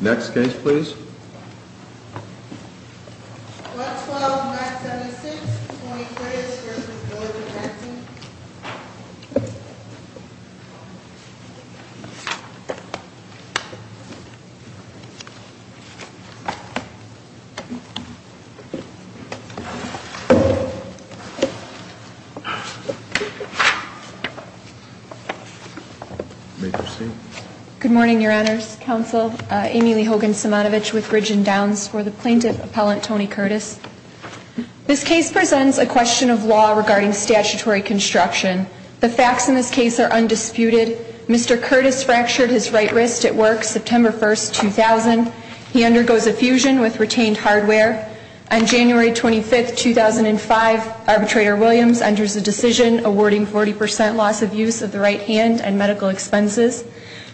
Next case please. Good morning Your Honours. This case presents a question of law regarding statutory construction. The facts in this case are undisputed. Mr. Curtis fractured his right wrist at work September 1, 2000. He undergoes effusion with retained hardware. On January 25, 2005, arbitrator Williams enters a decision awarding 40% loss of use of the right hand and medical expenses.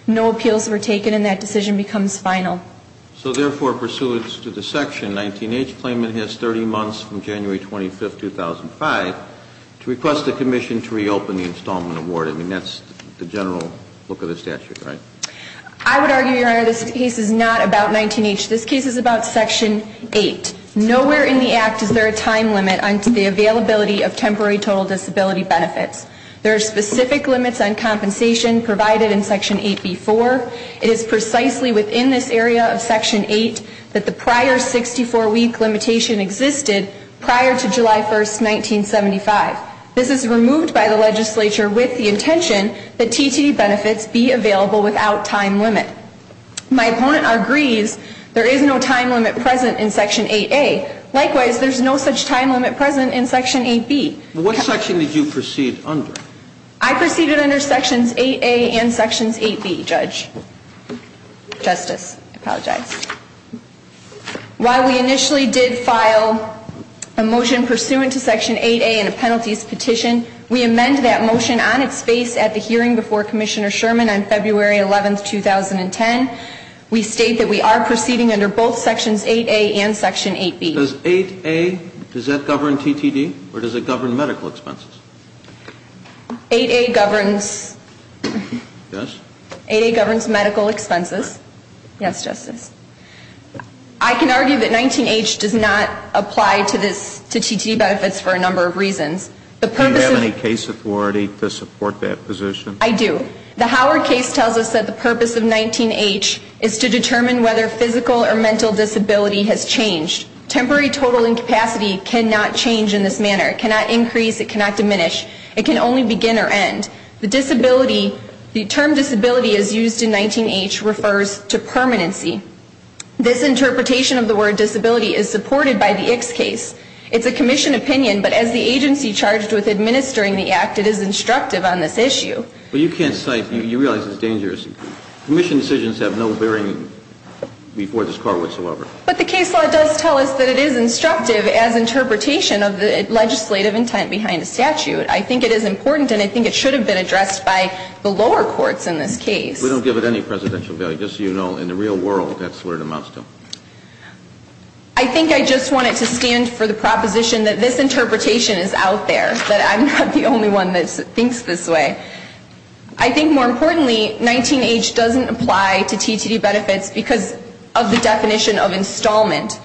No appeals were taken and that decision becomes final. So therefore pursuant to the section 19H, claimant has 30 months from January 25, 2005 to request the commission to reopen the installment award. I mean, that's the general look of the statute, right? I would argue, Your Honour, this case is not about 19H. This case is about section 8. Nowhere in the Act is there a time limit on the availability of temporary total disability benefits. There are specific limits on compensation provided in section 8B-4. It is precisely within this area of section 8 that the prior 64-week limitation existed prior to July 1, 1975. This is removed by the legislature with the intention that TTD benefits be available without time limit. My opponent agrees there is no time limit present in section 8A. Likewise, there's no such time limit present in section 8B. What section did you proceed under? I proceeded under sections 8A and sections 8B, Judge. Justice, I apologize. While we initially did file a motion pursuant to section 8A in a penalties petition, we amend that motion on its face at the hearing before Commissioner Sherman on February 11, 2010. We state that we are proceeding under both sections 8A and section 8B. Does 8A, does that govern TTD or does it govern medical expenses? 8A governs medical expenses. Yes, Justice. I can argue that 19H does not apply to TTD benefits for a number of reasons. Do you have any case authority to support that position? I do. The Howard case tells us that the purpose of 19H is to determine whether physical or mental disability has changed. Temporary total incapacity cannot change in this manner. It cannot increase. It cannot diminish. It can only begin or end. The disability, the term disability as used in 19H refers to permanency. This interpretation of the word disability is supported by the X case. It's a commission opinion, but as the agency charged with administering the act, it is instructive on this issue. Well, you can't cite, you realize it's dangerous. Commission decisions have no bearing before this court whatsoever. But the case law does tell us that it is instructive as interpretation of the legislative intent behind the statute. I think it is important and I think it should have been addressed by the lower courts in this case. We don't give it any presidential value. Just so you know, in the real world, that's where it amounts to. I think I just want it to stand for the proposition that this interpretation is out there, that I'm not the only one that thinks this way. I think more importantly, 19H doesn't apply to TTD benefits because of the definition of installment.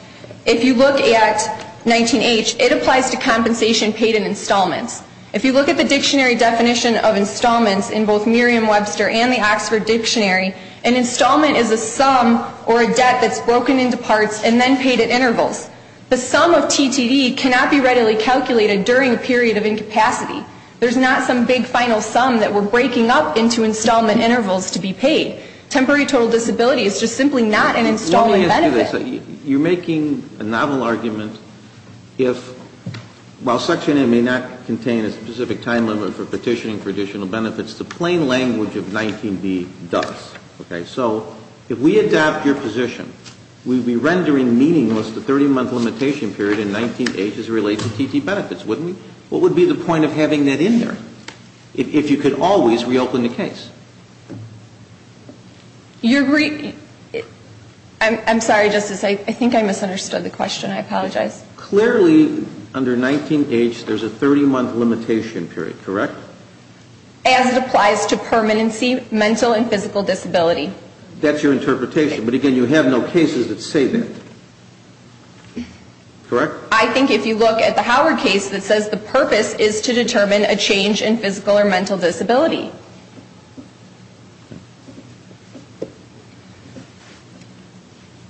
If you look at 19H, it applies to compensation paid in installments. If you look at the dictionary definition of installments in both Merriam-Webster and the Oxford Dictionary, an installment is a sum or a debt that's broken into parts and then paid at intervals. The sum of TTD cannot be readily calculated during a period of incapacity. There's not some big final sum that we're breaking up into installment intervals to be paid. Temporary total disability is just simply not an installment benefit. Let me ask you this. You're making a novel argument. While Section 8 may not contain a specific time limit for petitioning for additional benefits, the plain language of 19B does. So if we adopt your position, we'd be rendering meaningless the 30-month limitation period in 19H as it relates to TTD benefits, wouldn't we? What would be the point of having that in there if you could always reopen the case? I'm sorry, Justice. I think I misunderstood the question. I apologize. Clearly, under 19H, there's a 30-month limitation period, correct? As it applies to permanency, mental, and physical disability. That's your interpretation. But, again, you have no cases that say that. Correct? I think if you look at the Howard case that says the purpose is to determine a change in physical or mental disability.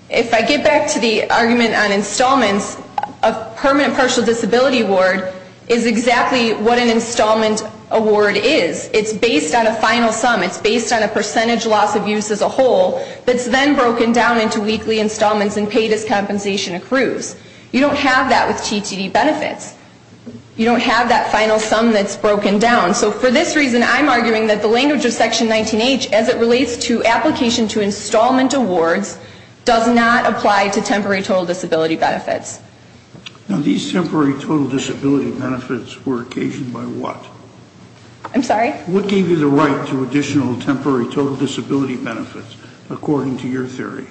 If I get back to the argument on installments, a permanent partial disability award is exactly what an installment award is. It's based on a final sum. It's based on a percentage loss of use as a whole that's then broken down into weekly installments and paid as compensation accrues. You don't have that with TTD benefits. You don't have that final sum that's broken down. So, for this reason, I'm arguing that the language of Section 19H as it relates to application to installment awards does not apply to temporary total disability benefits. Now, these temporary total disability benefits were occasioned by what? I'm sorry? What gave you the right to additional temporary total disability benefits, according to your theory?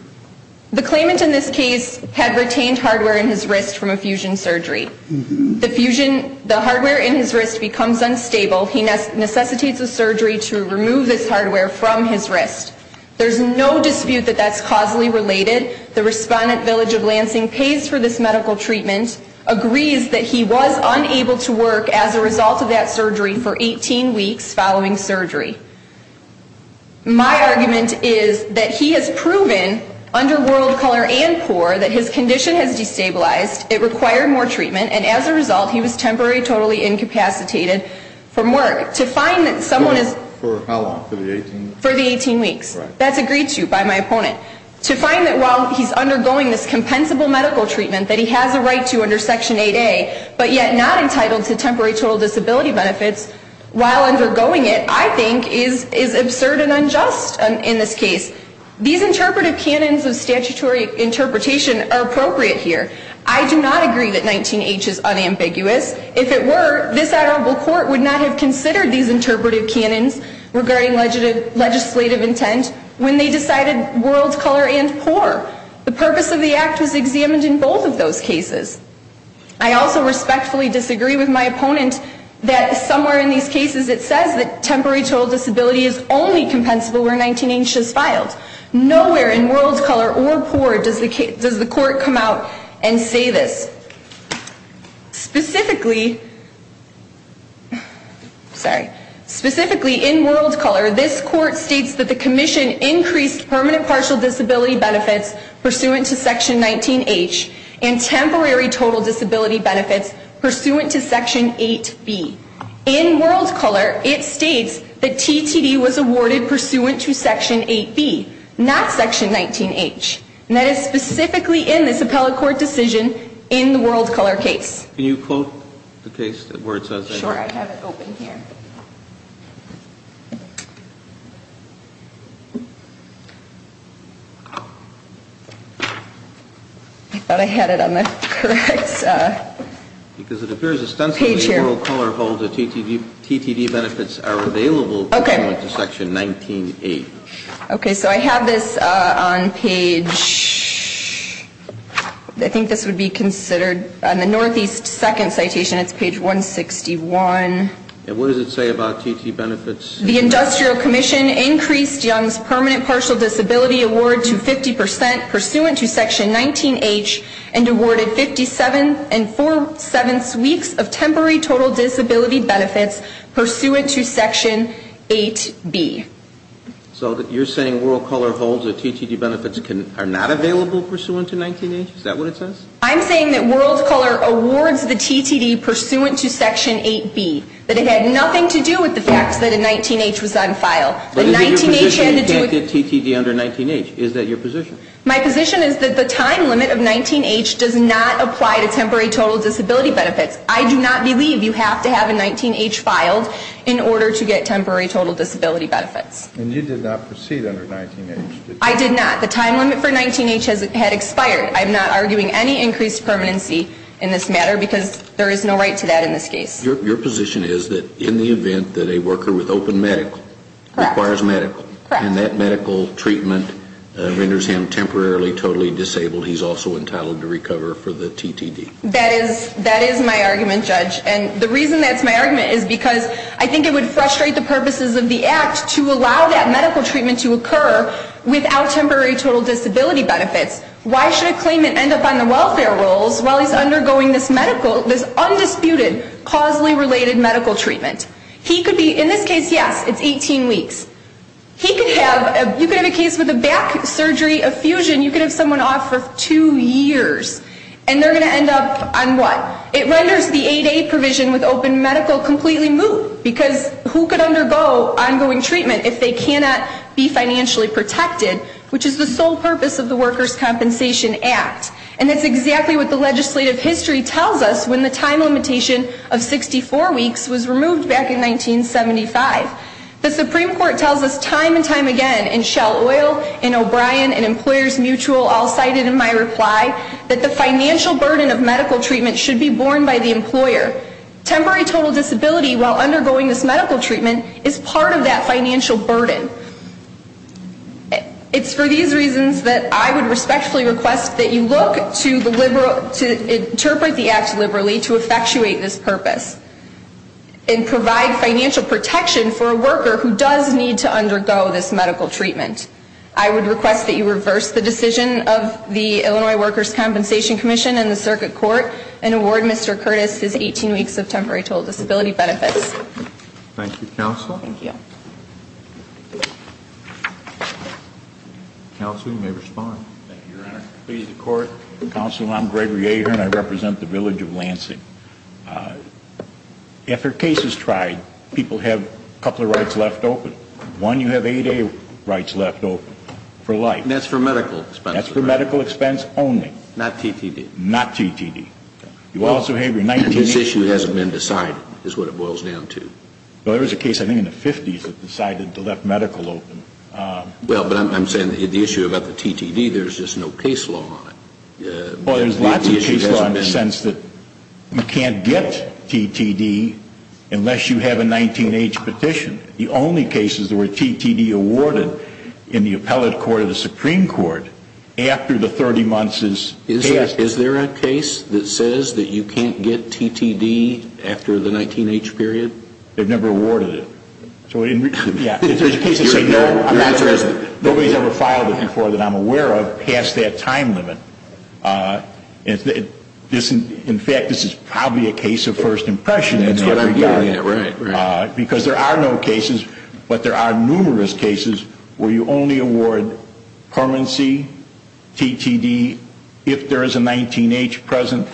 The claimant in this case had retained hardware in his wrist from a fusion surgery. The hardware in his wrist becomes unstable. He necessitates a surgery to remove this hardware from his wrist. There's no dispute that that's causally related. The respondent, Village of Lansing, pays for this medical treatment, agrees that he was unable to work as a result of that surgery for 18 weeks following surgery. My argument is that he has proven, under world color and poor, that his condition has destabilized, it required more treatment, and as a result he was temporarily totally incapacitated from work. To find that someone is... For how long? For the 18 weeks? For the 18 weeks. Right. That's agreed to by my opponent. To find that while he's undergoing this compensable medical treatment that he has a right to under Section 8A, but yet not entitled to temporary total disability benefits while undergoing it, I think is absurd and unjust in this case. These interpretive canons of statutory interpretation are appropriate here. I do not agree that 19H is unambiguous. If it were, this honorable court would not have considered these interpretive canons regarding legislative intent when they decided world color and poor. The purpose of the act was examined in both of those cases. I also respectfully disagree with my opponent that somewhere in these cases it says that temporary total disability is only compensable where 19H is filed. Nowhere in world color or poor does the court come out and say this. Specifically... Sorry. Specifically in world color, this court states that the commission increased permanent partial disability benefits pursuant to Section 19H, and temporary total disability benefits pursuant to Section 8B. In world color, it states that TTD was awarded pursuant to Section 8B, not Section 19H. And that is specifically in this appellate court decision in the world color case. Can you quote the case where it says that? Sure. I have it open here. I thought I had it on the correct page here. Because it appears ostensibly in world color holds that TTD benefits are available pursuant to Section 19A. Okay. So I have this on page... I think this would be considered... On the northeast second citation, it's page 161. And what does it say about TTD benefits? The industrial commission increased Young's permanent partial disability award to 50% pursuant to Section 19H, and awarded 57 and four-sevenths weeks of temporary total disability benefits pursuant to Section 8B. So you're saying world color holds that TTD benefits are not available pursuant to 19H? Is that what it says? I'm saying that world color awards the TTD pursuant to Section 8B. That it had nothing to do with the fact that a 19H was on file. But is it your position you can't get TTD under 19H? Is that your position? My position is that the time limit of 19H does not apply to temporary total disability benefits. I do not believe you have to have a 19H filed in order to get temporary total disability benefits. And you did not proceed under 19H, did you? I did not. The time limit for 19H had expired. I'm not arguing any increased permanency in this matter, because there is no right to that in this case. Your position is that in the event that a worker with open medical... Correct. Requires medical... Correct. And that medical treatment renders him temporarily totally disabled. He's also entitled to recover for the TTD. That is my argument, Judge. And the reason that's my argument is because I think it would frustrate the purposes of the Act to allow that medical treatment to occur without temporary total disability benefits. Why should a claimant end up on the welfare rolls while he's undergoing this medical, this undisputed causally related medical treatment? He could be, in this case, yes, it's 18 weeks. He could have, you could have a case with a back surgery effusion. You could have someone off for two years. And they're going to end up on what? It renders the 8A provision with open medical completely moot, because who could undergo ongoing treatment if they cannot be financially protected, which is the sole purpose of the Workers' Compensation Act. And that's exactly what the legislative history tells us when the time limitation of 64 weeks was removed back in 1975. The Supreme Court tells us time and time again, and Shell Oil and O'Brien and Employers Mutual all cited in my reply, that the financial burden of medical treatment should be borne by the employer. Temporary total disability while undergoing this medical treatment is part of that financial burden. It's for these reasons that I would respectfully request that you look to the liberal, to interpret the Act liberally to effectuate this purpose and provide financial protection for a worker who does need to undergo this medical treatment. I would request that you reverse the decision of the Illinois Workers' Compensation Commission and the Circuit Court and award Mr. Curtis his 18 weeks of temporary total disability benefits. Thank you, Counsel. Thank you. Counsel, you may respond. Thank you, Your Honor. Please, the Court. Counsel, I'm Gregory Ahern. I represent the village of Lansing. After a case is tried, people have a couple of rights left open. One, you have 8A rights left open for life. And that's for medical expenses. That's for medical expense only. Not TTD. Not TTD. You also have your 19- And this issue hasn't been decided is what it boils down to. Well, there was a case, I think, in the 50s that decided to left medical open. Well, but I'm saying the issue about the TTD, there's just no case law on it. Well, there's lots of cases in the sense that you can't get TTD unless you have a 19-H petition. The only cases where TTD awarded in the Appellate Court of the Supreme Court after the 30 months is- Is there a case that says that you can't get TTD after the 19-H period? They've never awarded it. Is there a case that says no? Nobody's ever filed it before that I'm aware of past that time limit. In fact, this is probably a case of first impression in every area. Because there are no cases, but there are numerous cases where you only award permanency, TTD, if there is a 19-H present,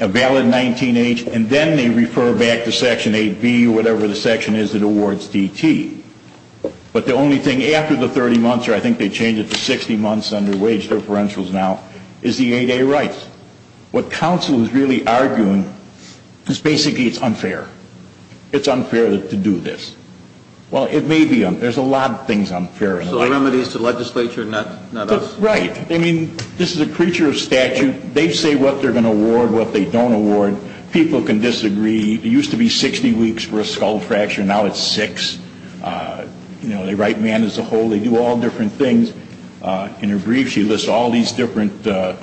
a valid 19-H, and then they refer back to Section 8B or whatever the section is that awards TT. But the only thing after the 30 months, or I think they changed it to 60 months under wage differentials now, is the 8A rights. What counsel is really arguing is basically it's unfair. It's unfair to do this. Well, it may be unfair. There's a lot of things unfair. So a remedy is to the legislature, not us? Right. I mean, this is a creature of statute. And they say what they're going to award, what they don't award. People can disagree. It used to be 60 weeks for a skull fracture. Now it's six. You know, they write man as a whole. They do all different things. In her brief, she lists all these different amendments.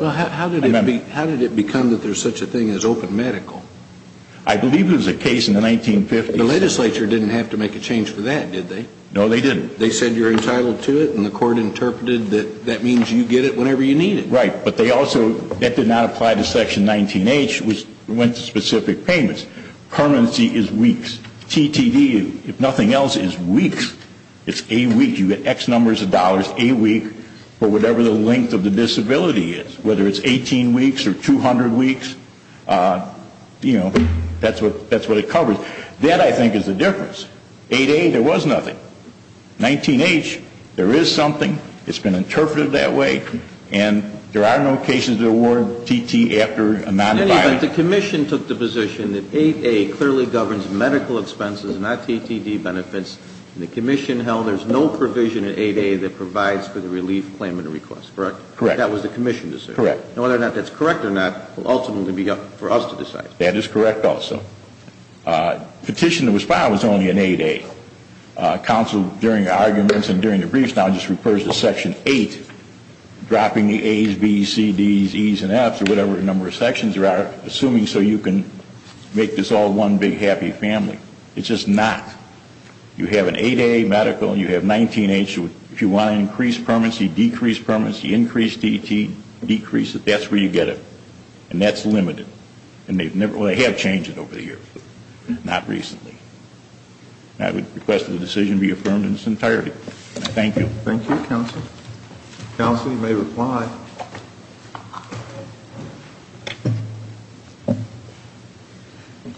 Well, how did it become that there's such a thing as open medical? I believe it was a case in the 1950s. The legislature didn't have to make a change for that, did they? No, they didn't. They said you're entitled to it, and the court interpreted that that means you get it whenever you need it. Right. But they also, that did not apply to Section 19H, which went to specific payments. Permanency is weeks. TTD, if nothing else, is weeks. It's a week. You get X numbers of dollars a week for whatever the length of the disability is, whether it's 18 weeks or 200 weeks. You know, that's what it covers. That, I think, is the difference. 8A, there was nothing. 19H, there is something. It's been interpreted that way. And there are no cases that award TT after a non-violent. In any event, the commission took the position that 8A clearly governs medical expenses, not TTD benefits. And the commission held there's no provision in 8A that provides for the relief claimant request, correct? Correct. That was the commission's decision. Correct. Now, whether or not that's correct or not will ultimately be up for us to decide. That is correct also. Petition that was filed was only in 8A. Counsel, during arguments and during the briefs, now just refers to Section 8, dropping the A's, B's, C's, D's, E's, and F's, or whatever the number of sections there are, assuming so you can make this all one big happy family. It's just not. You have an 8A medical and you have 19H. If you want to increase permanency, decrease permanency, increase TT, decrease it, that's where you get it. And that's limited. And they have changed it over the years. Not recently. I would request that the decision be affirmed in its entirety. Thank you. Thank you, Counsel. Counsel, you may reply.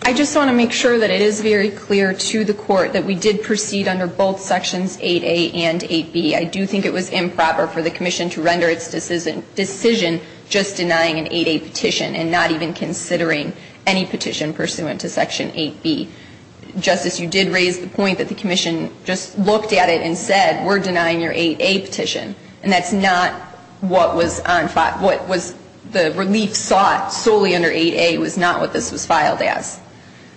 I just want to make sure that it is very clear to the court that we did proceed under both Sections 8A and 8B. I do think it was improper for the commission to render its decision just denying an 8A petition and not even considering any petition pursuant to Section 8B. Justice, you did raise the point that the commission just looked at it and said, we're denying your 8A petition. And that's not what was on file. What was the relief sought solely under 8A was not what this was filed as.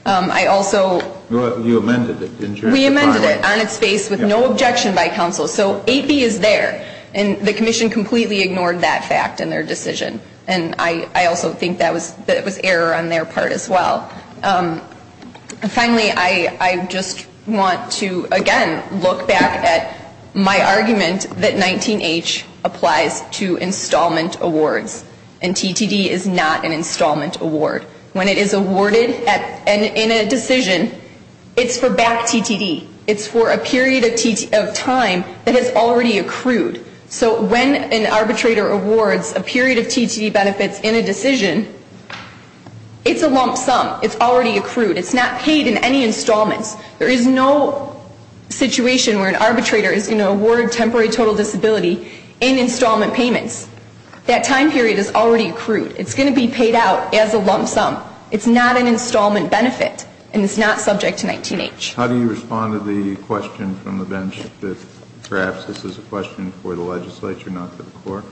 I also. You amended it, didn't you? We amended it on its face with no objection by counsel. So 8B is there. And the commission completely ignored that fact in their decision. And I also think that was error on their part as well. Finally, I just want to, again, look back at my argument that 19H applies to installment awards. And TTD is not an installment award. When it is awarded in a decision, it's for back TTD. It's for a period of time that has already accrued. So when an arbitrator awards a period of TTD benefits in a decision, it's a lump sum. It's already accrued. It's not paid in any installments. There is no situation where an arbitrator is going to award temporary total disability in installment payments. That time period is already accrued. It's going to be paid out as a lump sum. It's not an installment benefit. And it's not subject to 19H. How do you respond to the question from the bench that perhaps this is a question for the legislature, not for the court?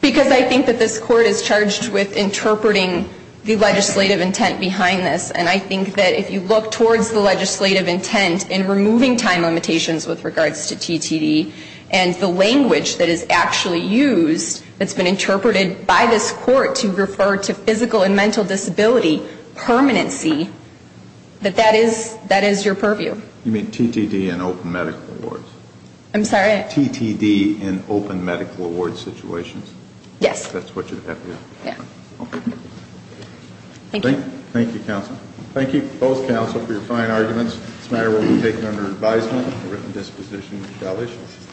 Because I think that this court is charged with interpreting the legislative intent behind this. And I think that if you look towards the legislative intent in removing time limitations with regards to TTD and the language that is actually used that's been interpreted by this court to refer to physical and mental disability permanency, that that is your purview. You mean TTD in open medical awards? I'm sorry? TTD in open medical award situations? Yes. That's what you have here? Yeah. Okay. Thank you. Thank you, counsel. Thank you, both counsel, for your fine arguments. This matter will be taken under advisement. A written disposition shall issue.